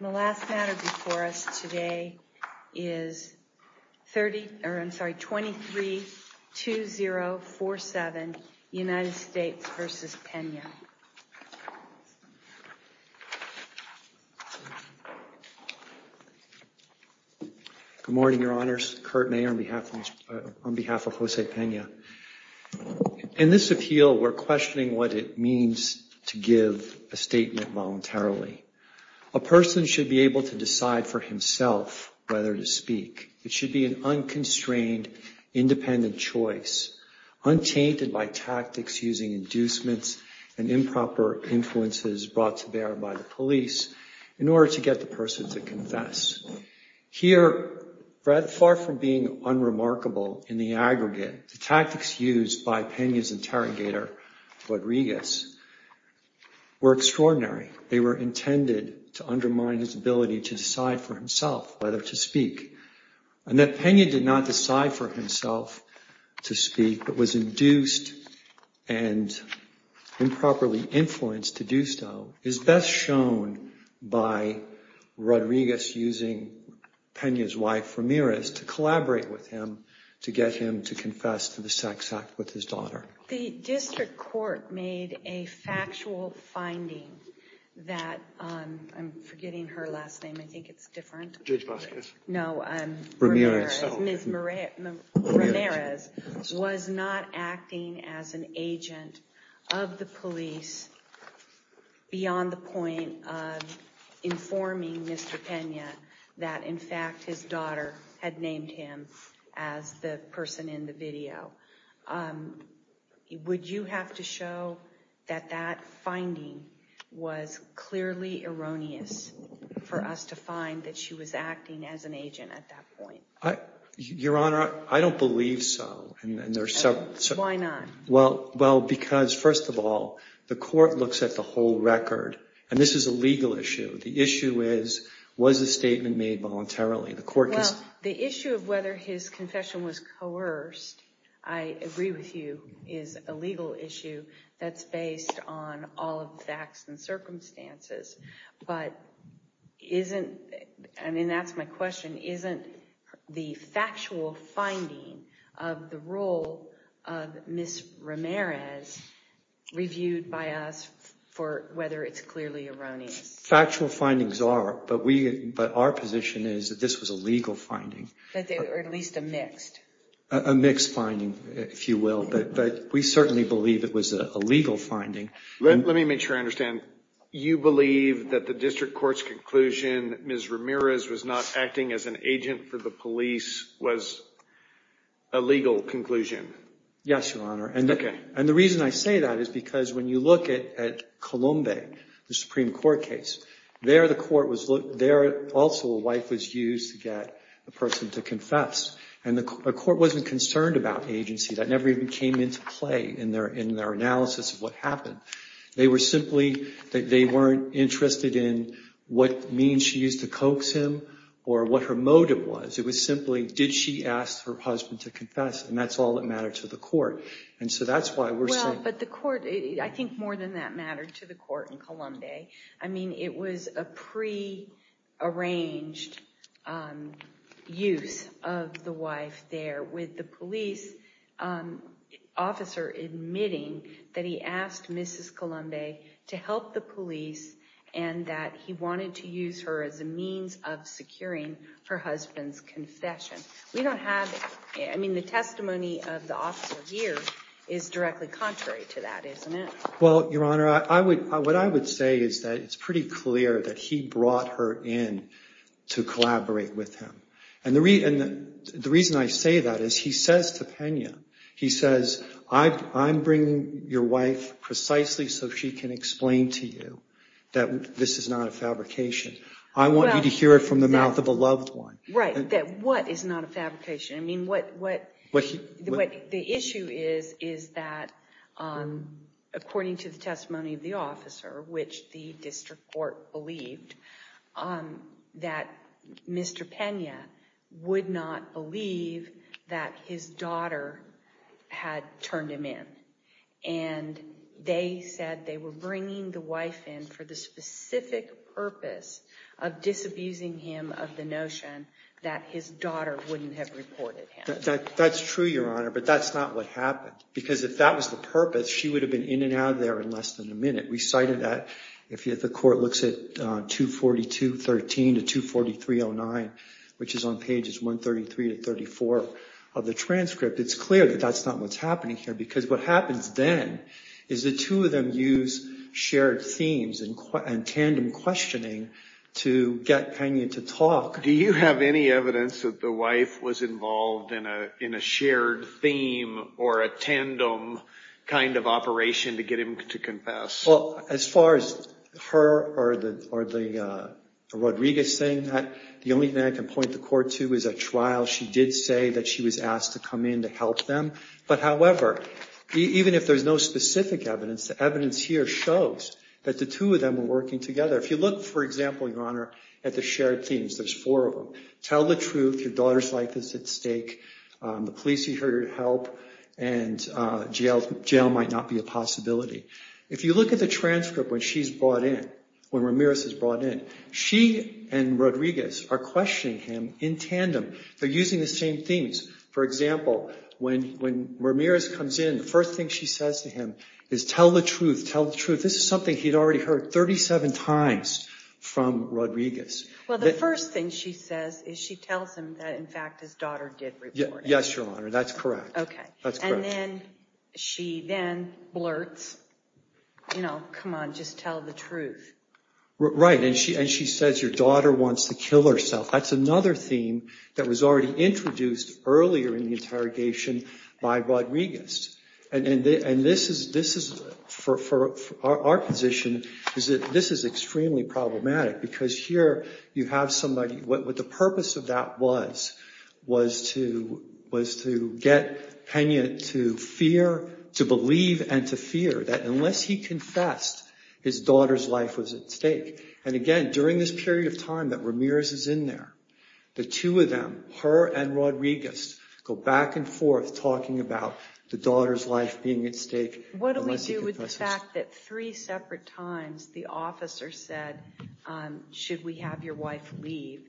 The last matter before us today is 23-2047, United States v. Pena. Good morning, Your Honors. Kurt May on behalf of Jose Pena. In this appeal, we're questioning what it means to give a statement voluntarily. A person should be able to decide for himself whether to speak. It should be an unconstrained, independent choice, untainted by tactics using inducements and improper influences brought to bear by the police in order to get the person to confess. Here, far from being unremarkable in the aggregate, the tactics used by Pena's interrogator, Rodriguez, were extraordinary. They were intended to undermine his ability to decide for himself whether to speak. And that Pena did not decide for himself to speak but was induced and improperly influenced to do so is best shown by Rodriguez using Pena's wife, Ramirez, to collaborate with him to get him to confess to the sex act with his daughter. The district court made a factual finding that, I'm forgetting her last name, I think it's different. Judge Vasquez. No, Ramirez, was not acting as an agent of the police beyond the point of informing Mr. Pena that, in fact, his daughter had named him as the person in the video. Would you have to show that that finding was clearly erroneous for us to find that she was acting as an agent at that point? Your Honor, I don't believe so. Why not? Well, because, first of all, the court looks at the whole record, and this is a legal issue. The issue is, was the statement made voluntarily? Well, the issue of whether his confession was coerced, I agree with you, is a legal issue that's based on all of the facts and circumstances. But isn't, and that's my question, isn't the factual finding of the role of Ms. Ramirez reviewed by us for whether it's clearly erroneous? Factual findings are, but our position is that this was a legal finding. Or at least a mixed. A mixed finding, if you will. But we certainly believe it was a legal finding. Let me make sure I understand. You believe that the district court's conclusion that Ms. Ramirez was not acting as an agent for the police was a legal conclusion? Yes, Your Honor. Okay. And the reason I say that is because when you look at Colombe, the Supreme Court case, there also a wife was used to get a person to confess. And the court wasn't concerned about agency. That never even came into play in their analysis of what happened. They were simply, they weren't interested in what means she used to coax him or what her motive was. It was simply, did she ask her husband to confess? And that's all that mattered to the court. And so that's why we're saying. But the court, I think more than that mattered to the court in Colombe. I mean, it was a prearranged use of the wife there with the police officer admitting that he asked Mrs. Colombe to help the police and that he wanted to use her as a means of securing her husband's confession. I mean, the testimony of the officer here is directly contrary to that, isn't it? Well, Your Honor, what I would say is that it's pretty clear that he brought her in to collaborate with him. And the reason I say that is he says to Pena, he says, I'm bringing your wife precisely so she can explain to you that this is not a fabrication. I want you to hear it from the mouth of a loved one. Right, that what is not a fabrication? I mean, what the issue is, is that according to the testimony of the officer, which the district court believed, that Mr. Pena would not believe that his daughter had turned him in. And they said they were bringing the wife in for the specific purpose of disabusing him of the notion that his daughter wouldn't have reported him. That's true, Your Honor, but that's not what happened. Because if that was the purpose, she would have been in and out of there in less than a minute. We cited that if the court looks at 242.13 to 243.09, which is on pages 133 to 34 of the transcript, it's clear that that's not what's happening here. Because what happens then is the two of them use shared themes and tandem questioning to get Pena to talk. Do you have any evidence that the wife was involved in a shared theme or a tandem kind of operation to get him to confess? Well, as far as her or Rodriguez saying that, the only thing I can point the court to is a trial. She did say that she was asked to come in to help them. But, however, even if there's no specific evidence, the evidence here shows that the two of them were working together. If you look, for example, Your Honor, at the shared themes, there's four of them. Tell the truth, your daughter's life is at stake, the police need her help, and jail might not be a possibility. If you look at the transcript when she's brought in, when Ramirez is brought in, she and Rodriguez are questioning him in tandem. They're using the same themes. For example, when Ramirez comes in, the first thing she says to him is tell the truth, tell the truth. This is something he'd already heard 37 times from Rodriguez. Well, the first thing she says is she tells him that, in fact, his daughter did report it. Yes, Your Honor, that's correct. Okay. That's correct. And then she then blurts, you know, come on, just tell the truth. Right, and she says your daughter wants to kill herself. That's another theme that was already introduced earlier in the interrogation by Rodriguez. And this is, for our position, this is extremely problematic because here you have somebody, what the purpose of that was, was to get Pena to fear, to believe and to fear that unless he confessed, his daughter's life was at stake. And, again, during this period of time that Ramirez is in there, the two of them, her and Rodriguez, go back and forth talking about the daughter's life being at stake unless he confesses. What do we do with the fact that three separate times the officer said, should we have your wife leave,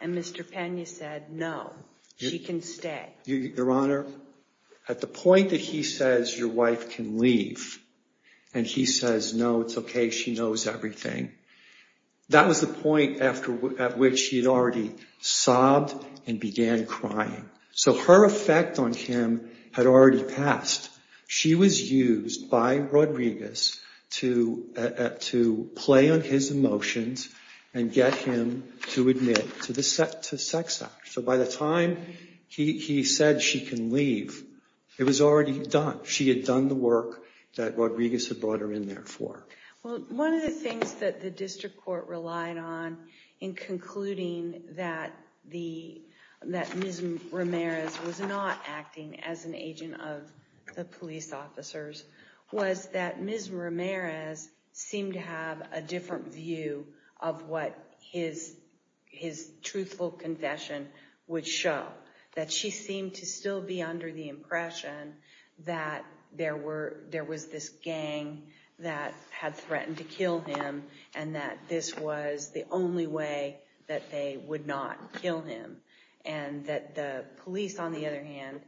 and Mr. Pena said no, she can stay? Your Honor, at the point that he says your wife can leave and he says no, it's okay, she knows everything, that was the point at which he had already sobbed and began crying. So her effect on him had already passed. She was used by Rodriguez to play on his emotions and get him to admit to sex act. So by the time he said she can leave, it was already done. She had done the work that Rodriguez had brought her in there for. Well, one of the things that the district court relied on in concluding that Ms. Ramirez was not acting as an agent of the police officers was that Ms. Ramirez seemed to have a different view of what his truthful confession would show. That she seemed to still be under the impression that there was this gang that had threatened to kill him and that this was the only way that they would not kill him. And that the police, on the other hand,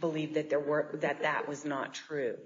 believed that that was not true.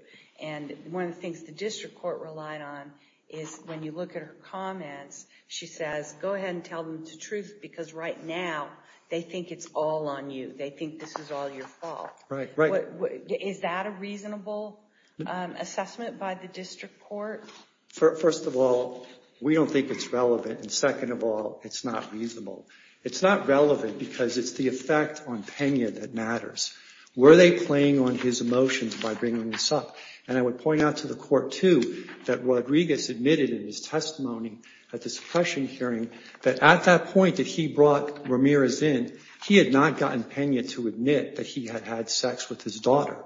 And one of the things the district court relied on is when you look at her comments, she says go ahead and tell them the truth because right now they think it's all on you. They think this is all your fault. Is that a reasonable assessment by the district court? First of all, we don't think it's relevant. And second of all, it's not reasonable. It's not relevant because it's the effect on Pena that matters. Were they playing on his emotions by bringing this up? And I would point out to the court, too, that Rodriguez admitted in his testimony at the suppression hearing that at that point that he brought Ramirez in, he had not gotten Pena to admit that he had had sex with his daughter.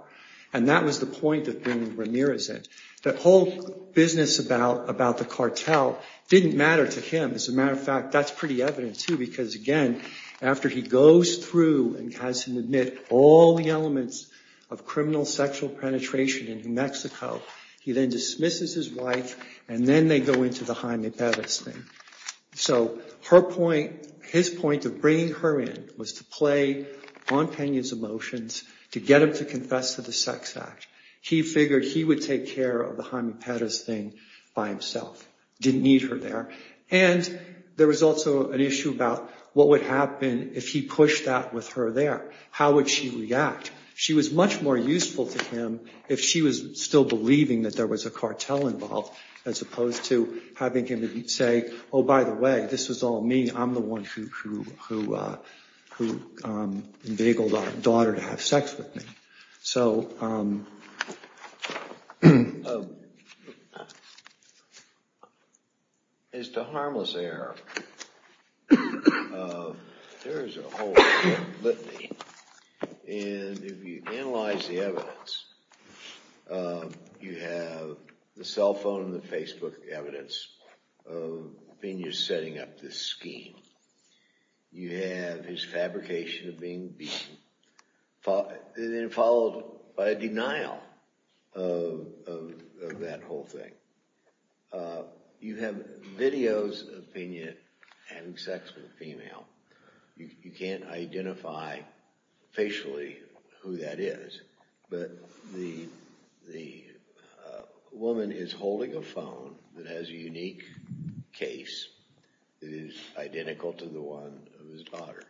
And that was the point of bringing Ramirez in. The whole business about the cartel didn't matter to him. As a matter of fact, that's pretty evident, too, because, again, after he goes through and has him admit all the elements of criminal sexual penetration in New Mexico, he then dismisses his wife and then they go into the Jaime Pérez thing. So his point of bringing her in was to play on Pena's emotions, to get him to confess to the sex act. He figured he would take care of the Jaime Pérez thing by himself. Didn't need her there. And there was also an issue about what would happen if he pushed that with her there. How would she react? She was much more useful to him if she was still believing that there was a cartel involved as opposed to having him say, oh, by the way, this was all me. I'm the one who enveigled our daughter to have sex with me. As to harmless error, there is a whole litany. And if you analyze the evidence, you have the cell phone and the Facebook evidence of Pena setting up this scheme. You have his fabrication of being beaten, followed by a denial of that whole thing. You have videos of Pena having sex with a female. You can't identify facially who that is, but the woman is holding a phone that has a unique case that is identical to the one of his daughter's.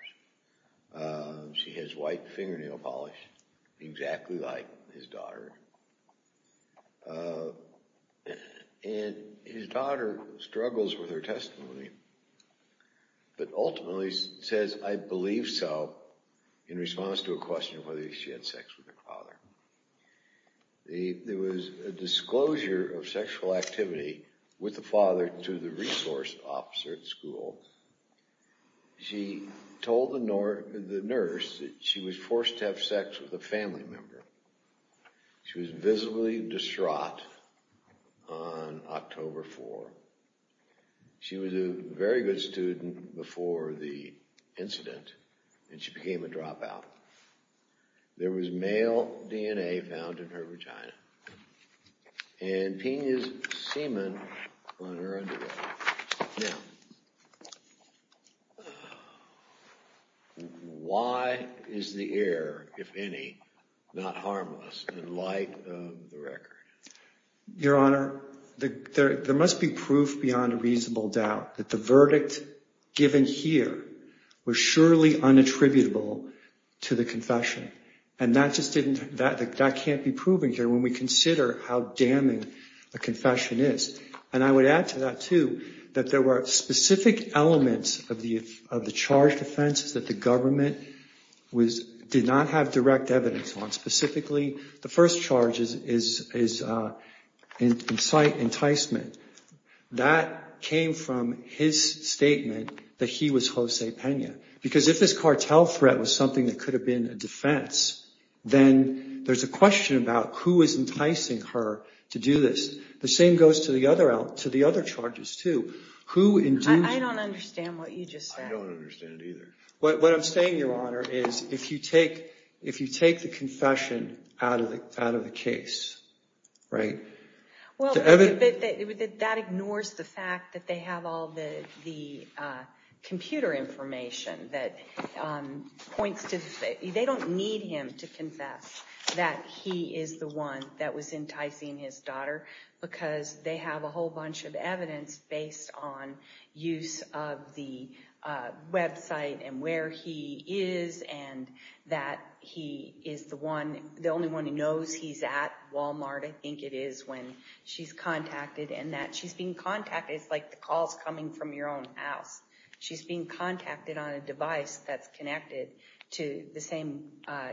She has white fingernail polish exactly like his daughter. And his daughter struggles with her testimony, but ultimately says, I believe so, in response to a question of whether she had sex with her father. There was a disclosure of sexual activity with the father to the resource officer at school. She told the nurse that she was forced to have sex with a family member. She was visibly distraught on October 4. She was a very good student before the incident, and she became a dropout. There was male DNA found in her vagina, and Pena's semen on her underwear. Now, why is the error, if any, not harmless in light of the record? Your Honor, there must be proof beyond a reasonable doubt that the verdict given here was surely unattributable to the confession. And that can't be proven here when we consider how damning a confession is. And I would add to that, too, that there were specific elements of the charge defense that the government did not have direct evidence on. Specifically, the first charge is enticement. That came from his statement that he was Jose Pena. Because if this cartel threat was something that could have been a defense, then there's a question about who is enticing her to do this. The same goes to the other charges, too. I don't understand what you just said. I don't understand it either. What I'm saying, Your Honor, is if you take the confession out of the case, right? Well, that ignores the fact that they have all the computer information that points to the fact that they don't need him to confess that he is the one that was enticing his daughter because they have a whole bunch of evidence based on use of the website and where he is and that he is the only one who knows he's at Walmart, I think it is, when she's contacted. And that she's being contacted is like the calls coming from your own house. She's being contacted on a device that's connected to the same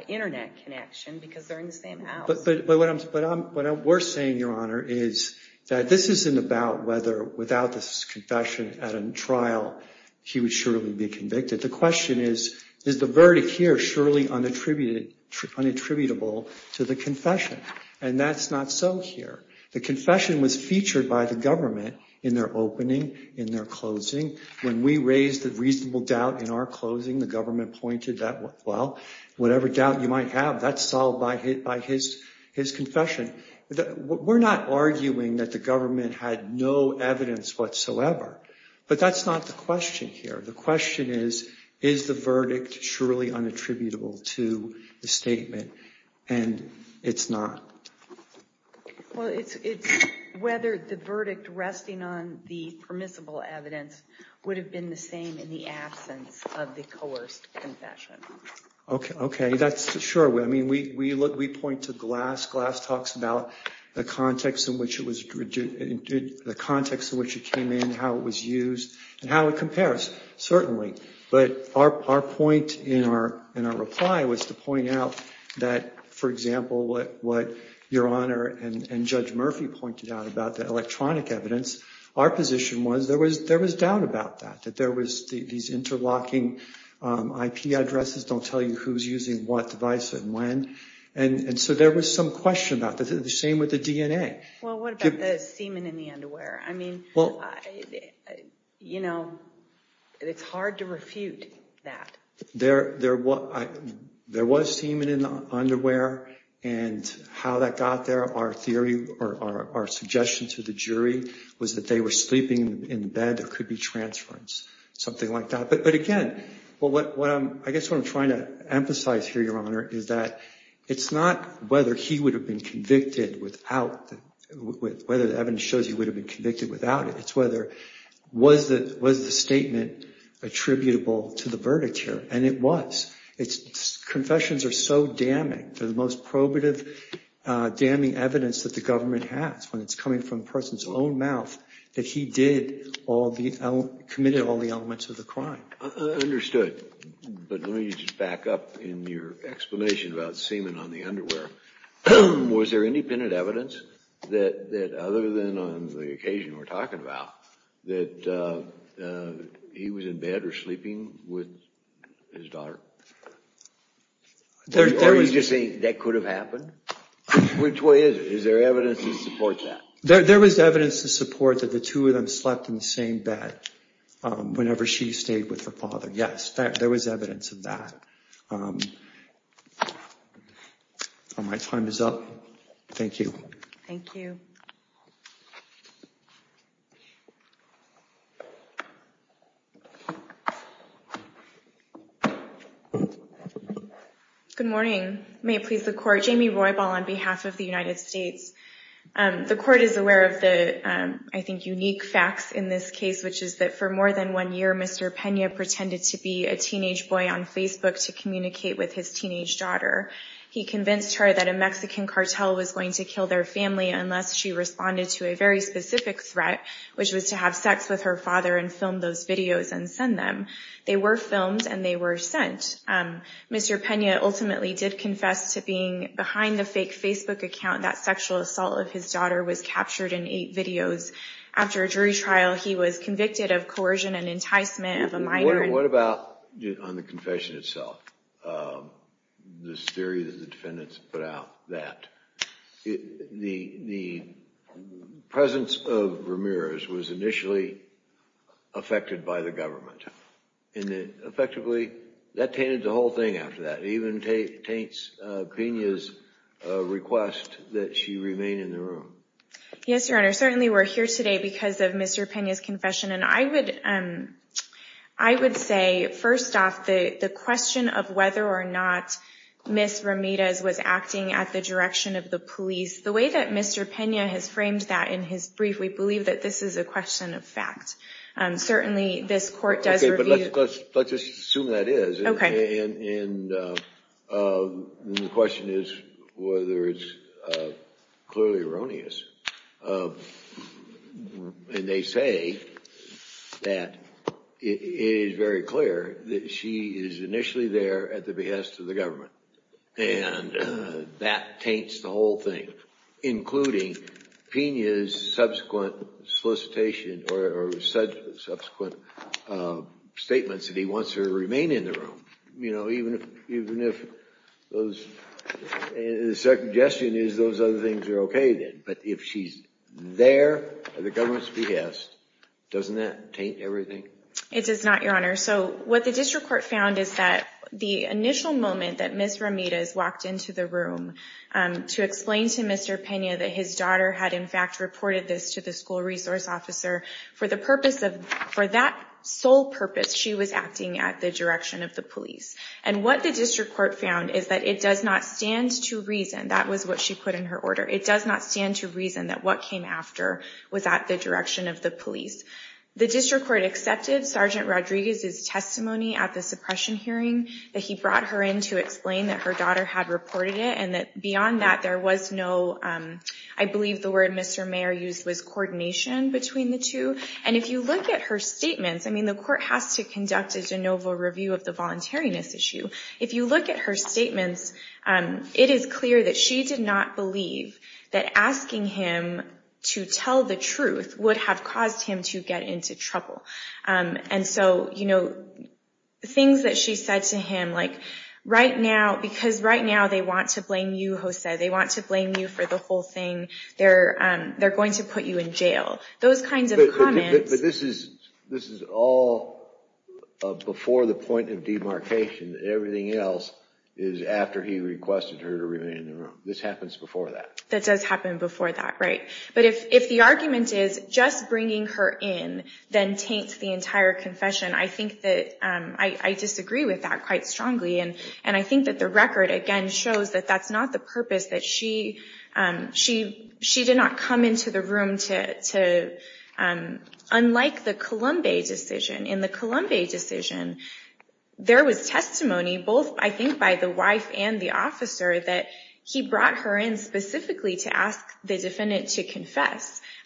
internet connection because they're in the same house. But what we're saying, Your Honor, is that this isn't about whether without this confession at a trial he would surely be convicted. The question is, is the verdict here surely unattributable to the confession? And that's not so here. The confession was featured by the government in their opening, in their closing. When we raised the reasonable doubt in our closing, the government pointed that, well, whatever doubt you might have, that's solved by his confession. We're not arguing that the government had no evidence whatsoever. But that's not the question here. The question is, is the verdict surely unattributable to the statement? And it's not. Well, it's whether the verdict resting on the permissible evidence would have been the same in the absence of the coerced confession. Okay, that's true. I mean, we point to Glass. Glass talks about the context in which it came in, how it was used, and how it compares, certainly. But our point in our reply was to point out that, for example, what Your Honor and Judge Murphy pointed out about the electronic evidence, our position was there was doubt about that, that there was these interlocking IP addresses don't tell you who's using what device and when. And so there was some question about that. The same with the DNA. Well, what about the semen in the underwear? I mean, you know, it's hard to refute that. There was semen in the underwear. And how that got there, our theory, or our suggestion to the jury, was that they were sleeping in bed. There could be transference, something like that. But, again, I guess what I'm trying to emphasize here, Your Honor, is that it's not whether he would have been convicted without, whether the evidence shows he would have been convicted without it. It's whether, was the statement attributable to the verdict here? And it was. Confessions are so damning. They're the most probative damning evidence that the government has when it's coming from a person's own mouth that he did all the, committed all the elements of the crime. Understood. But let me just back up in your explanation about semen on the underwear. Was there independent evidence that, other than on the occasion we're talking about, that he was in bed or sleeping with his daughter? Or are you just saying that could have happened? Which way is it? Is there evidence to support that? There was evidence to support that the two of them slept in the same bed whenever she stayed with her father, yes. There was evidence of that. My time is up. Thank you. Thank you. Good morning. May it please the Court. Jamie Roybal on behalf of the United States. The Court is aware of the, I think, unique facts in this case, which is that for more than one year, Mr. Pena pretended to be a teenage boy on Facebook to communicate with his teenage daughter. He convinced her that a Mexican cartel was going to kill their family unless she responded to a very specific threat, which was to have sex with her father and film those videos and send them. They were filmed and they were sent. Mr. Pena ultimately did confess to being behind the fake Facebook account that sexual assault of his daughter was captured in eight videos. After a jury trial, he was convicted of coercion and enticement of a minor. What about on the confession itself, this theory that the defendants put out, that the presence of Ramirez was initially affected by the government? Effectively, that tainted the whole thing after that. It even taints Pena's request that she remain in the room. Yes, Your Honor. Certainly, we're here today because of Mr. Pena's confession. I would say, first off, the question of whether or not Ms. Ramirez was acting at the direction of the police, the way that Mr. Pena has framed that in his brief, we believe that this is a question of fact. Certainly, this Court does review it. Let's just assume that is. The question is whether it's clearly erroneous. They say that it is very clear that she is initially there at the behest of the government. That taints the whole thing, including Pena's subsequent solicitation or subsequent statements that he wants her to remain in the room, even if the suggestion is those other things are okay then. But if she's there at the government's behest, doesn't that taint everything? It does not, Your Honor. What the district court found is that the initial moment that Ms. Ramirez walked into the room to explain to Mr. Pena that his daughter had in fact reported this to the school resource officer, for that sole purpose, she was acting at the direction of the police. And what the district court found is that it does not stand to reason, that was what she put in her order, it does not stand to reason that what came after was at the direction of the police. The district court accepted Sergeant Rodriguez's testimony at the suppression hearing that he brought her in to explain that her daughter had reported it, and that beyond that there was no, I believe the word Mr. Mayer used was coordination between the two. And if you look at her statements, I mean the court has to conduct a de novo review of the voluntariness issue. If you look at her statements, it is clear that she did not believe that asking him to tell the truth would have caused him to get into trouble. And so, you know, things that she said to him like, right now, because right now they want to blame you Jose, they want to blame you for the whole thing, they're going to put you in jail. Those kinds of comments... But this is all before the point of demarcation, everything else is after he requested her to remain in the room. This happens before that. That does happen before that, right. But if the argument is just bringing her in then taints the entire confession, I think that I disagree with that quite strongly, and I think that the record again shows that that's not the purpose, that she did not come into the room to... Unlike the Colombe decision, in the Colombe decision, there was testimony both I think by the wife and the officer that he brought her in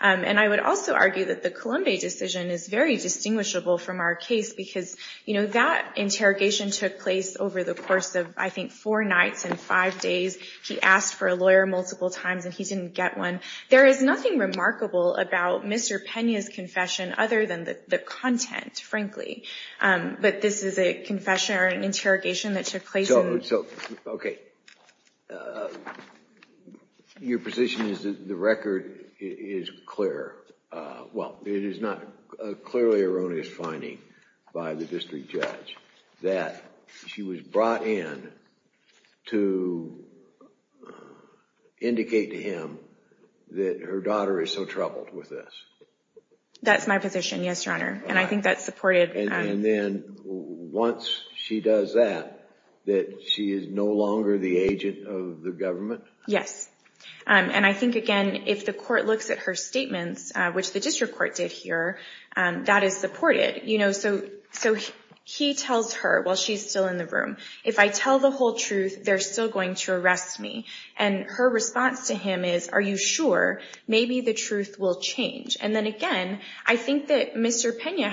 And I would also argue that the Colombe decision is very distinguishable from our case because that interrogation took place over the course of I think four nights and five days. He asked for a lawyer multiple times and he didn't get one. There is nothing remarkable about Mr. Pena's confession other than the content, frankly. But this is a confession or an interrogation that took place... Okay. Your position is that the record is clear. Well, it is not a clearly erroneous finding by the district judge that she was brought in to indicate to him that her daughter is so troubled with this. That's my position, yes, Your Honor, and I think that's supported. And then once she does that, that she is no longer the agent of the government? Yes, and I think, again, if the court looks at her statements, which the district court did here, that is supported. So he tells her while she's still in the room, if I tell the whole truth, they're still going to arrest me. And her response to him is, are you sure? Maybe the truth will change. And then, again, I think that Mr. Pena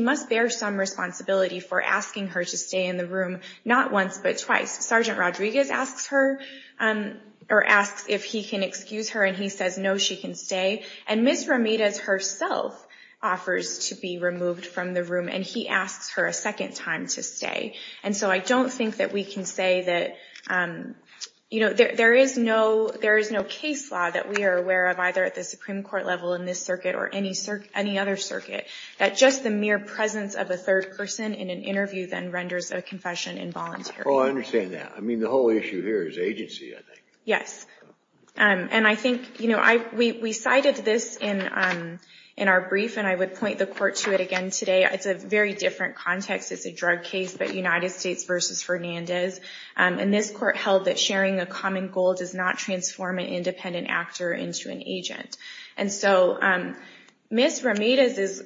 must bear some responsibility for asking her to stay in the room not once but twice. Sergeant Rodriguez asks if he can excuse her and he says, no, she can stay. And Ms. Ramirez herself offers to be removed from the room, and he asks her a second time to stay. And so I don't think that we can say that... There is no case law that we are aware of, either at the Supreme Court level in this circuit or any other circuit, that just the mere presence of a third person in an interview then renders a confession involuntary. Oh, I understand that. I mean, the whole issue here is agency, I think. Yes, and I think we cited this in our brief, and I would point the court to it again today. It's a very different context. It's a drug case, but United States versus Fernandez. And this court held that sharing a common goal does not transform an independent actor into an agent. And so Ms. Ramirez's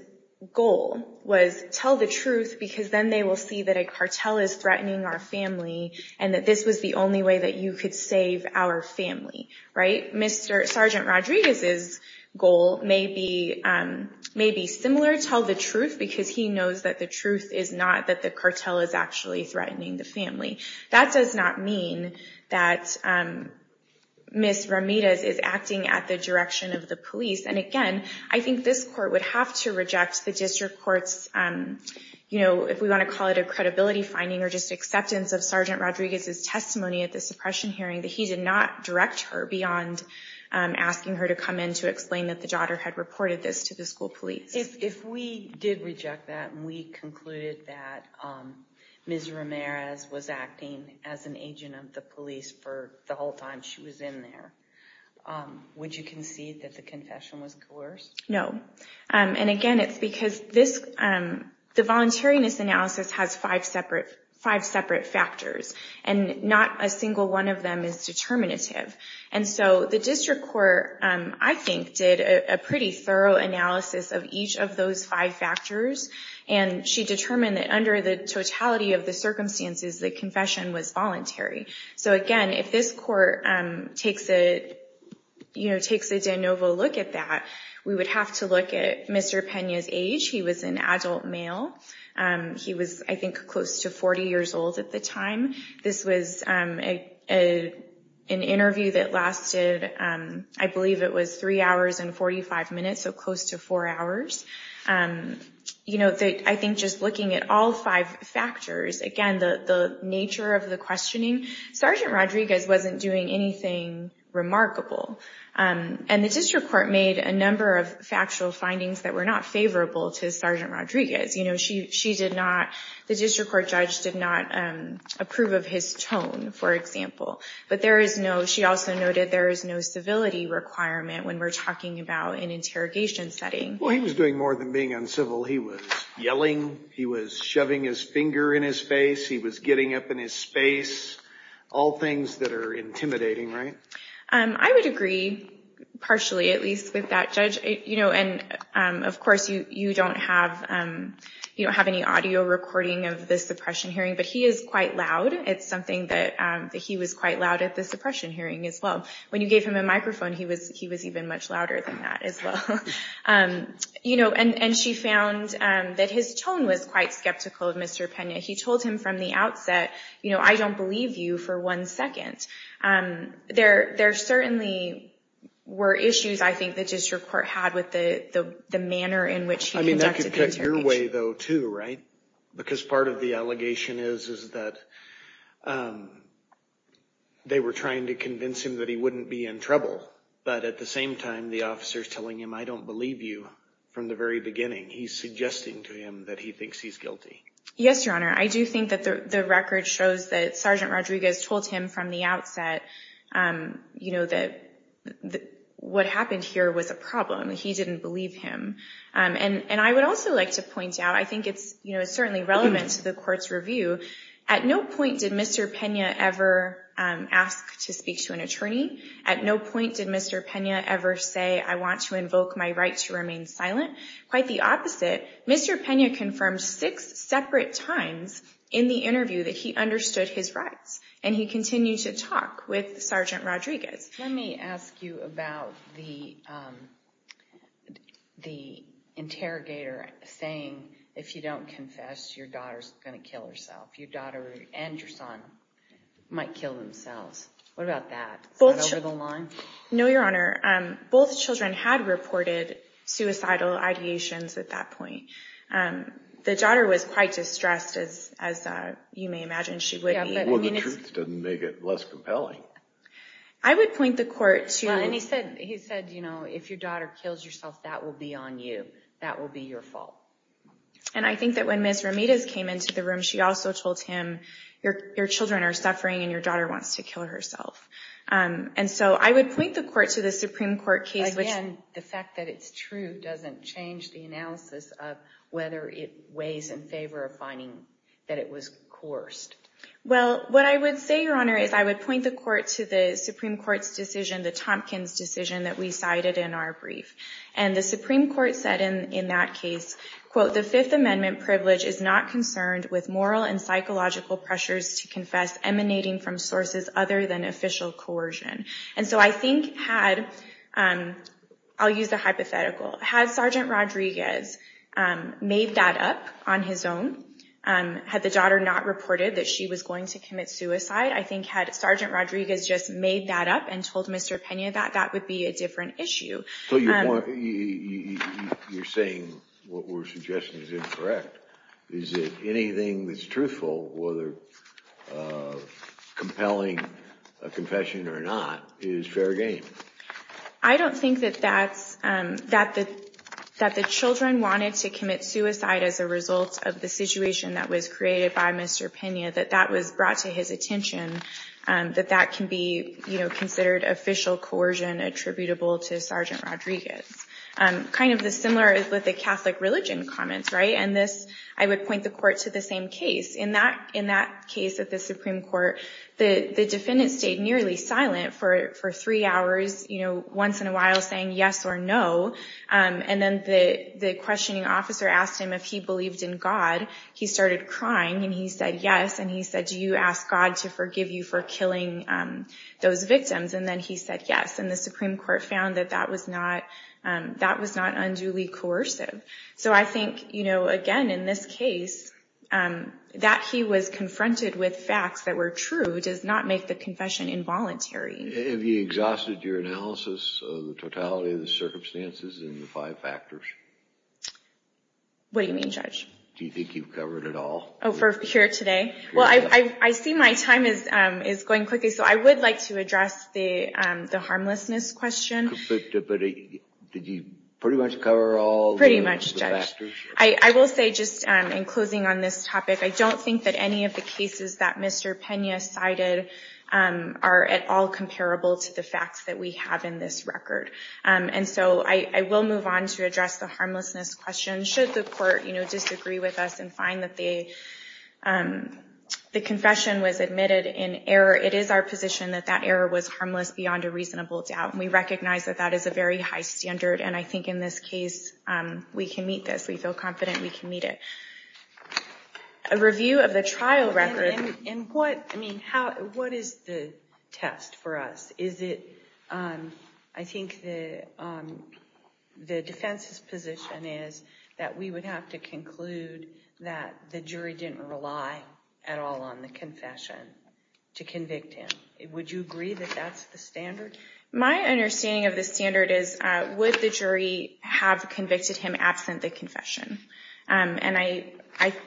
goal was tell the truth because then they will see that a cartel is threatening our family and that this was the only way that you could save our family. Sergeant Rodriguez's goal may be similar, tell the truth, because he knows that the truth is not that the cartel is actually threatening the family. That does not mean that Ms. Ramirez is acting at the direction of the police. And again, I think this court would have to reject the district court's, if we want to call it a credibility finding or just acceptance of Sergeant Rodriguez's testimony at the suppression hearing, that he did not direct her beyond asking her to come in to explain that the daughter had reported this to the school police. If we did reject that and we concluded that Ms. Ramirez was acting as an agent of the police for the whole time she was in there, would you concede that the confession was coerced? No. And again, it's because the voluntariness analysis has five separate factors, and not a single one of them is determinative. And so the district court, I think, did a pretty thorough analysis of each of those five factors, and she determined that under the totality of the circumstances, the confession was voluntary. So again, if this court takes a de novo look at that, we would have to look at Mr. Pena's age. He was an adult male. He was, I think, close to 40 years old at the time. This was an interview that lasted, I believe it was three hours and 45 minutes, so close to four hours. I think just looking at all five factors, again, the nature of the questioning, Sergeant Rodriguez wasn't doing anything remarkable. And the district court made a number of factual findings that were not favorable to Sergeant Rodriguez. The district court judge did not approve of his tone, for example. But she also noted there is no civility requirement when we're talking about an interrogation setting. Well, he was doing more than being uncivil. He was yelling. He was shoving his finger in his face. He was getting up in his space, all things that are intimidating, right? I would agree, partially at least, with that judge. Of course, you don't have any audio recording of the suppression hearing, but he is quite loud. It's something that he was quite loud at the suppression hearing as well. When you gave him a microphone, he was even much louder than that as well. And she found that his tone was quite skeptical of Mr. Pena. He told him from the outset, you know, I don't believe you for one second. There certainly were issues, I think, the district court had with the manner in which he conducted the interrogation. I mean, that could pick your way, though, too, right? Because part of the allegation is that they were trying to convince him that he wouldn't be in trouble. But at the same time, the officer is telling him, I don't believe you from the very beginning. He's suggesting to him that he thinks he's guilty. Yes, Your Honor. I do think that the record shows that Sergeant Rodriguez told him from the outset, you know, that what happened here was a problem. He didn't believe him. And I would also like to point out, I think it's certainly relevant to the court's review. At no point did Mr. Pena ever ask to speak to an attorney. At no point did Mr. Pena ever say, I want to invoke my right to remain silent. Quite the opposite, Mr. Pena confirmed six separate times in the interview that he understood his rights, and he continued to talk with Sergeant Rodriguez. Let me ask you about the interrogator saying, if you don't confess, your daughter's going to kill herself. Your daughter and your son might kill themselves. What about that? Is that over the line? No, Your Honor. Both children had reported suicidal ideations at that point. The daughter was quite distressed, as you may imagine she would be. Well, the truth doesn't make it less compelling. I would point the court to— And he said, you know, if your daughter kills herself, that will be on you. That will be your fault. And I think that when Ms. Ramirez came into the room, she also told him, your children are suffering and your daughter wants to kill herself. And so I would point the court to the Supreme Court case, which— Again, the fact that it's true doesn't change the analysis of whether it weighs in favor of finding that it was coerced. Well, what I would say, Your Honor, is I would point the court to the Supreme Court's decision, the Tompkins decision that we cited in our brief. And the Supreme Court said in that case, quote, the Fifth Amendment privilege is not concerned with moral and psychological pressures to confess emanating from sources other than official coercion. And so I think had—I'll use a hypothetical. Had Sergeant Rodriguez made that up on his own? Had the daughter not reported that she was going to commit suicide? I think had Sergeant Rodriguez just made that up and told Mr. Pena that, that would be a different issue. So you're saying what we're suggesting is incorrect. Is it anything that's truthful, whether compelling a confession or not, is fair game? I don't think that that's—that the children wanted to commit suicide as a result of the situation that was created by Mr. Pena, that that was brought to his attention, that that can be considered official coercion attributable to Sergeant Rodriguez. Kind of the similar is with the Catholic religion comments, right? And this—I would point the court to the same case. In that case at the Supreme Court, the defendant stayed nearly silent for three hours, you know, once in a while saying yes or no. And then the questioning officer asked him if he believed in God. He started crying, and he said yes, and he said, do you ask God to forgive you for killing those victims? And then he said yes, and the Supreme Court found that that was not unduly coercive. So I think, you know, again, in this case, that he was confronted with facts that were true does not make the confession involuntary. Have you exhausted your analysis of the totality of the circumstances in the five factors? What do you mean, Judge? Do you think you've covered it all? Oh, for here today? Well, I see my time is going quickly, so I would like to address the harmlessness question. But did you pretty much cover all the— Pretty much, Judge. I will say, just in closing on this topic, I don't think that any of the cases that Mr. Pena cited are at all comparable to the facts that we have in this record. And so I will move on to address the harmlessness question. Should the court, you know, disagree with us and find that the confession was admitted in error, it is our position that that error was harmless beyond a reasonable doubt. We recognize that that is a very high standard, and I think in this case we can meet this. We feel confident we can meet it. A review of the trial record— And what—I mean, how—what is the test for us? Is it—I think the defense's position is that we would have to conclude that the jury didn't rely at all on the confession to convict him. Would you agree that that's the standard? My understanding of the standard is, would the jury have convicted him absent the confession? And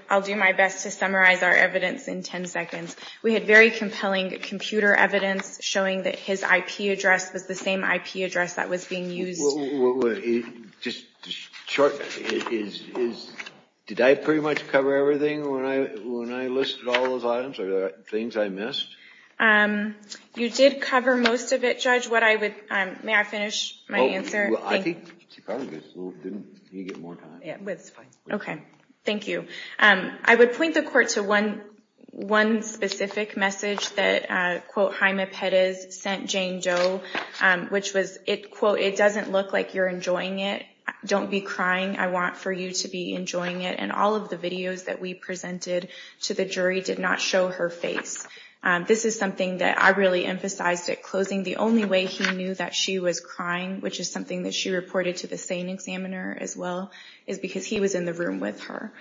I'll do my best to summarize our evidence in 10 seconds. We had very compelling computer evidence showing that his IP address was the same IP address that was being used— Well, just short—did I pretty much cover everything when I listed all those items? Are there things I missed? You did cover most of it, Judge. What I would—may I finish my answer? Well, I think she probably did, so we'll give you more time. Yeah, that's fine. Okay, thank you. I would point the Court to one specific message that, quote, Jaime Perez sent Jane Doe, which was, quote, it doesn't look like you're enjoying it. Don't be crying. I want for you to be enjoying it. And all of the videos that we presented to the jury did not show her face. This is something that I really emphasized at closing. The only way he knew that she was crying, which is something that she reported to the SANE examiner as well, is because he was in the room with her.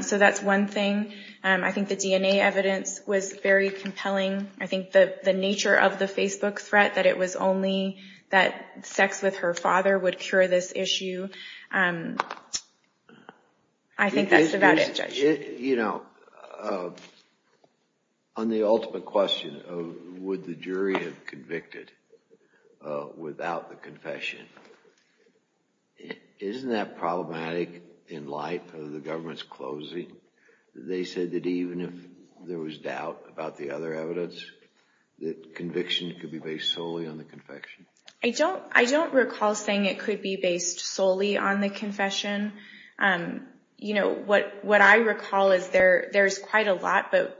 So that's one thing. I think the DNA evidence was very compelling. I think the nature of the Facebook threat, that it was only that sex with her father would cure this issue, I think that's about it, Judge. You know, on the ultimate question of would the jury have convicted without the confession, isn't that problematic in light of the government's closing? They said that even if there was doubt about the other evidence, that conviction could be based solely on the confession. I don't recall saying it could be based solely on the confession. You know, what I recall is there's quite a lot, but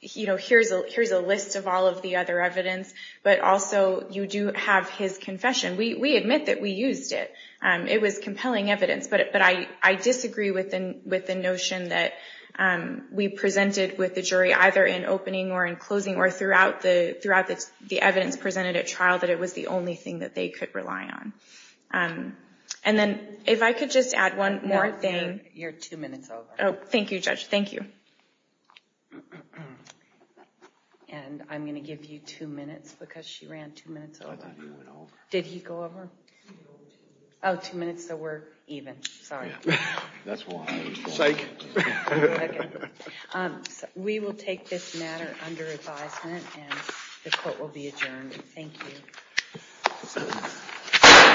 here's a list of all of the other evidence, but also you do have his confession. We admit that we used it. It was compelling evidence, but I disagree with the notion that we presented with the jury either in opening or in closing or throughout the evidence presented at trial that it was the only thing that they could rely on. And then if I could just add one more thing. You're two minutes over. Oh, thank you, Judge. Thank you. And I'm going to give you two minutes because she ran two minutes over. Did he go over? Oh, two minutes, so we're even. Sorry. That's why. Psych. We will take this matter under advisement and the court will be adjourned. Thank you.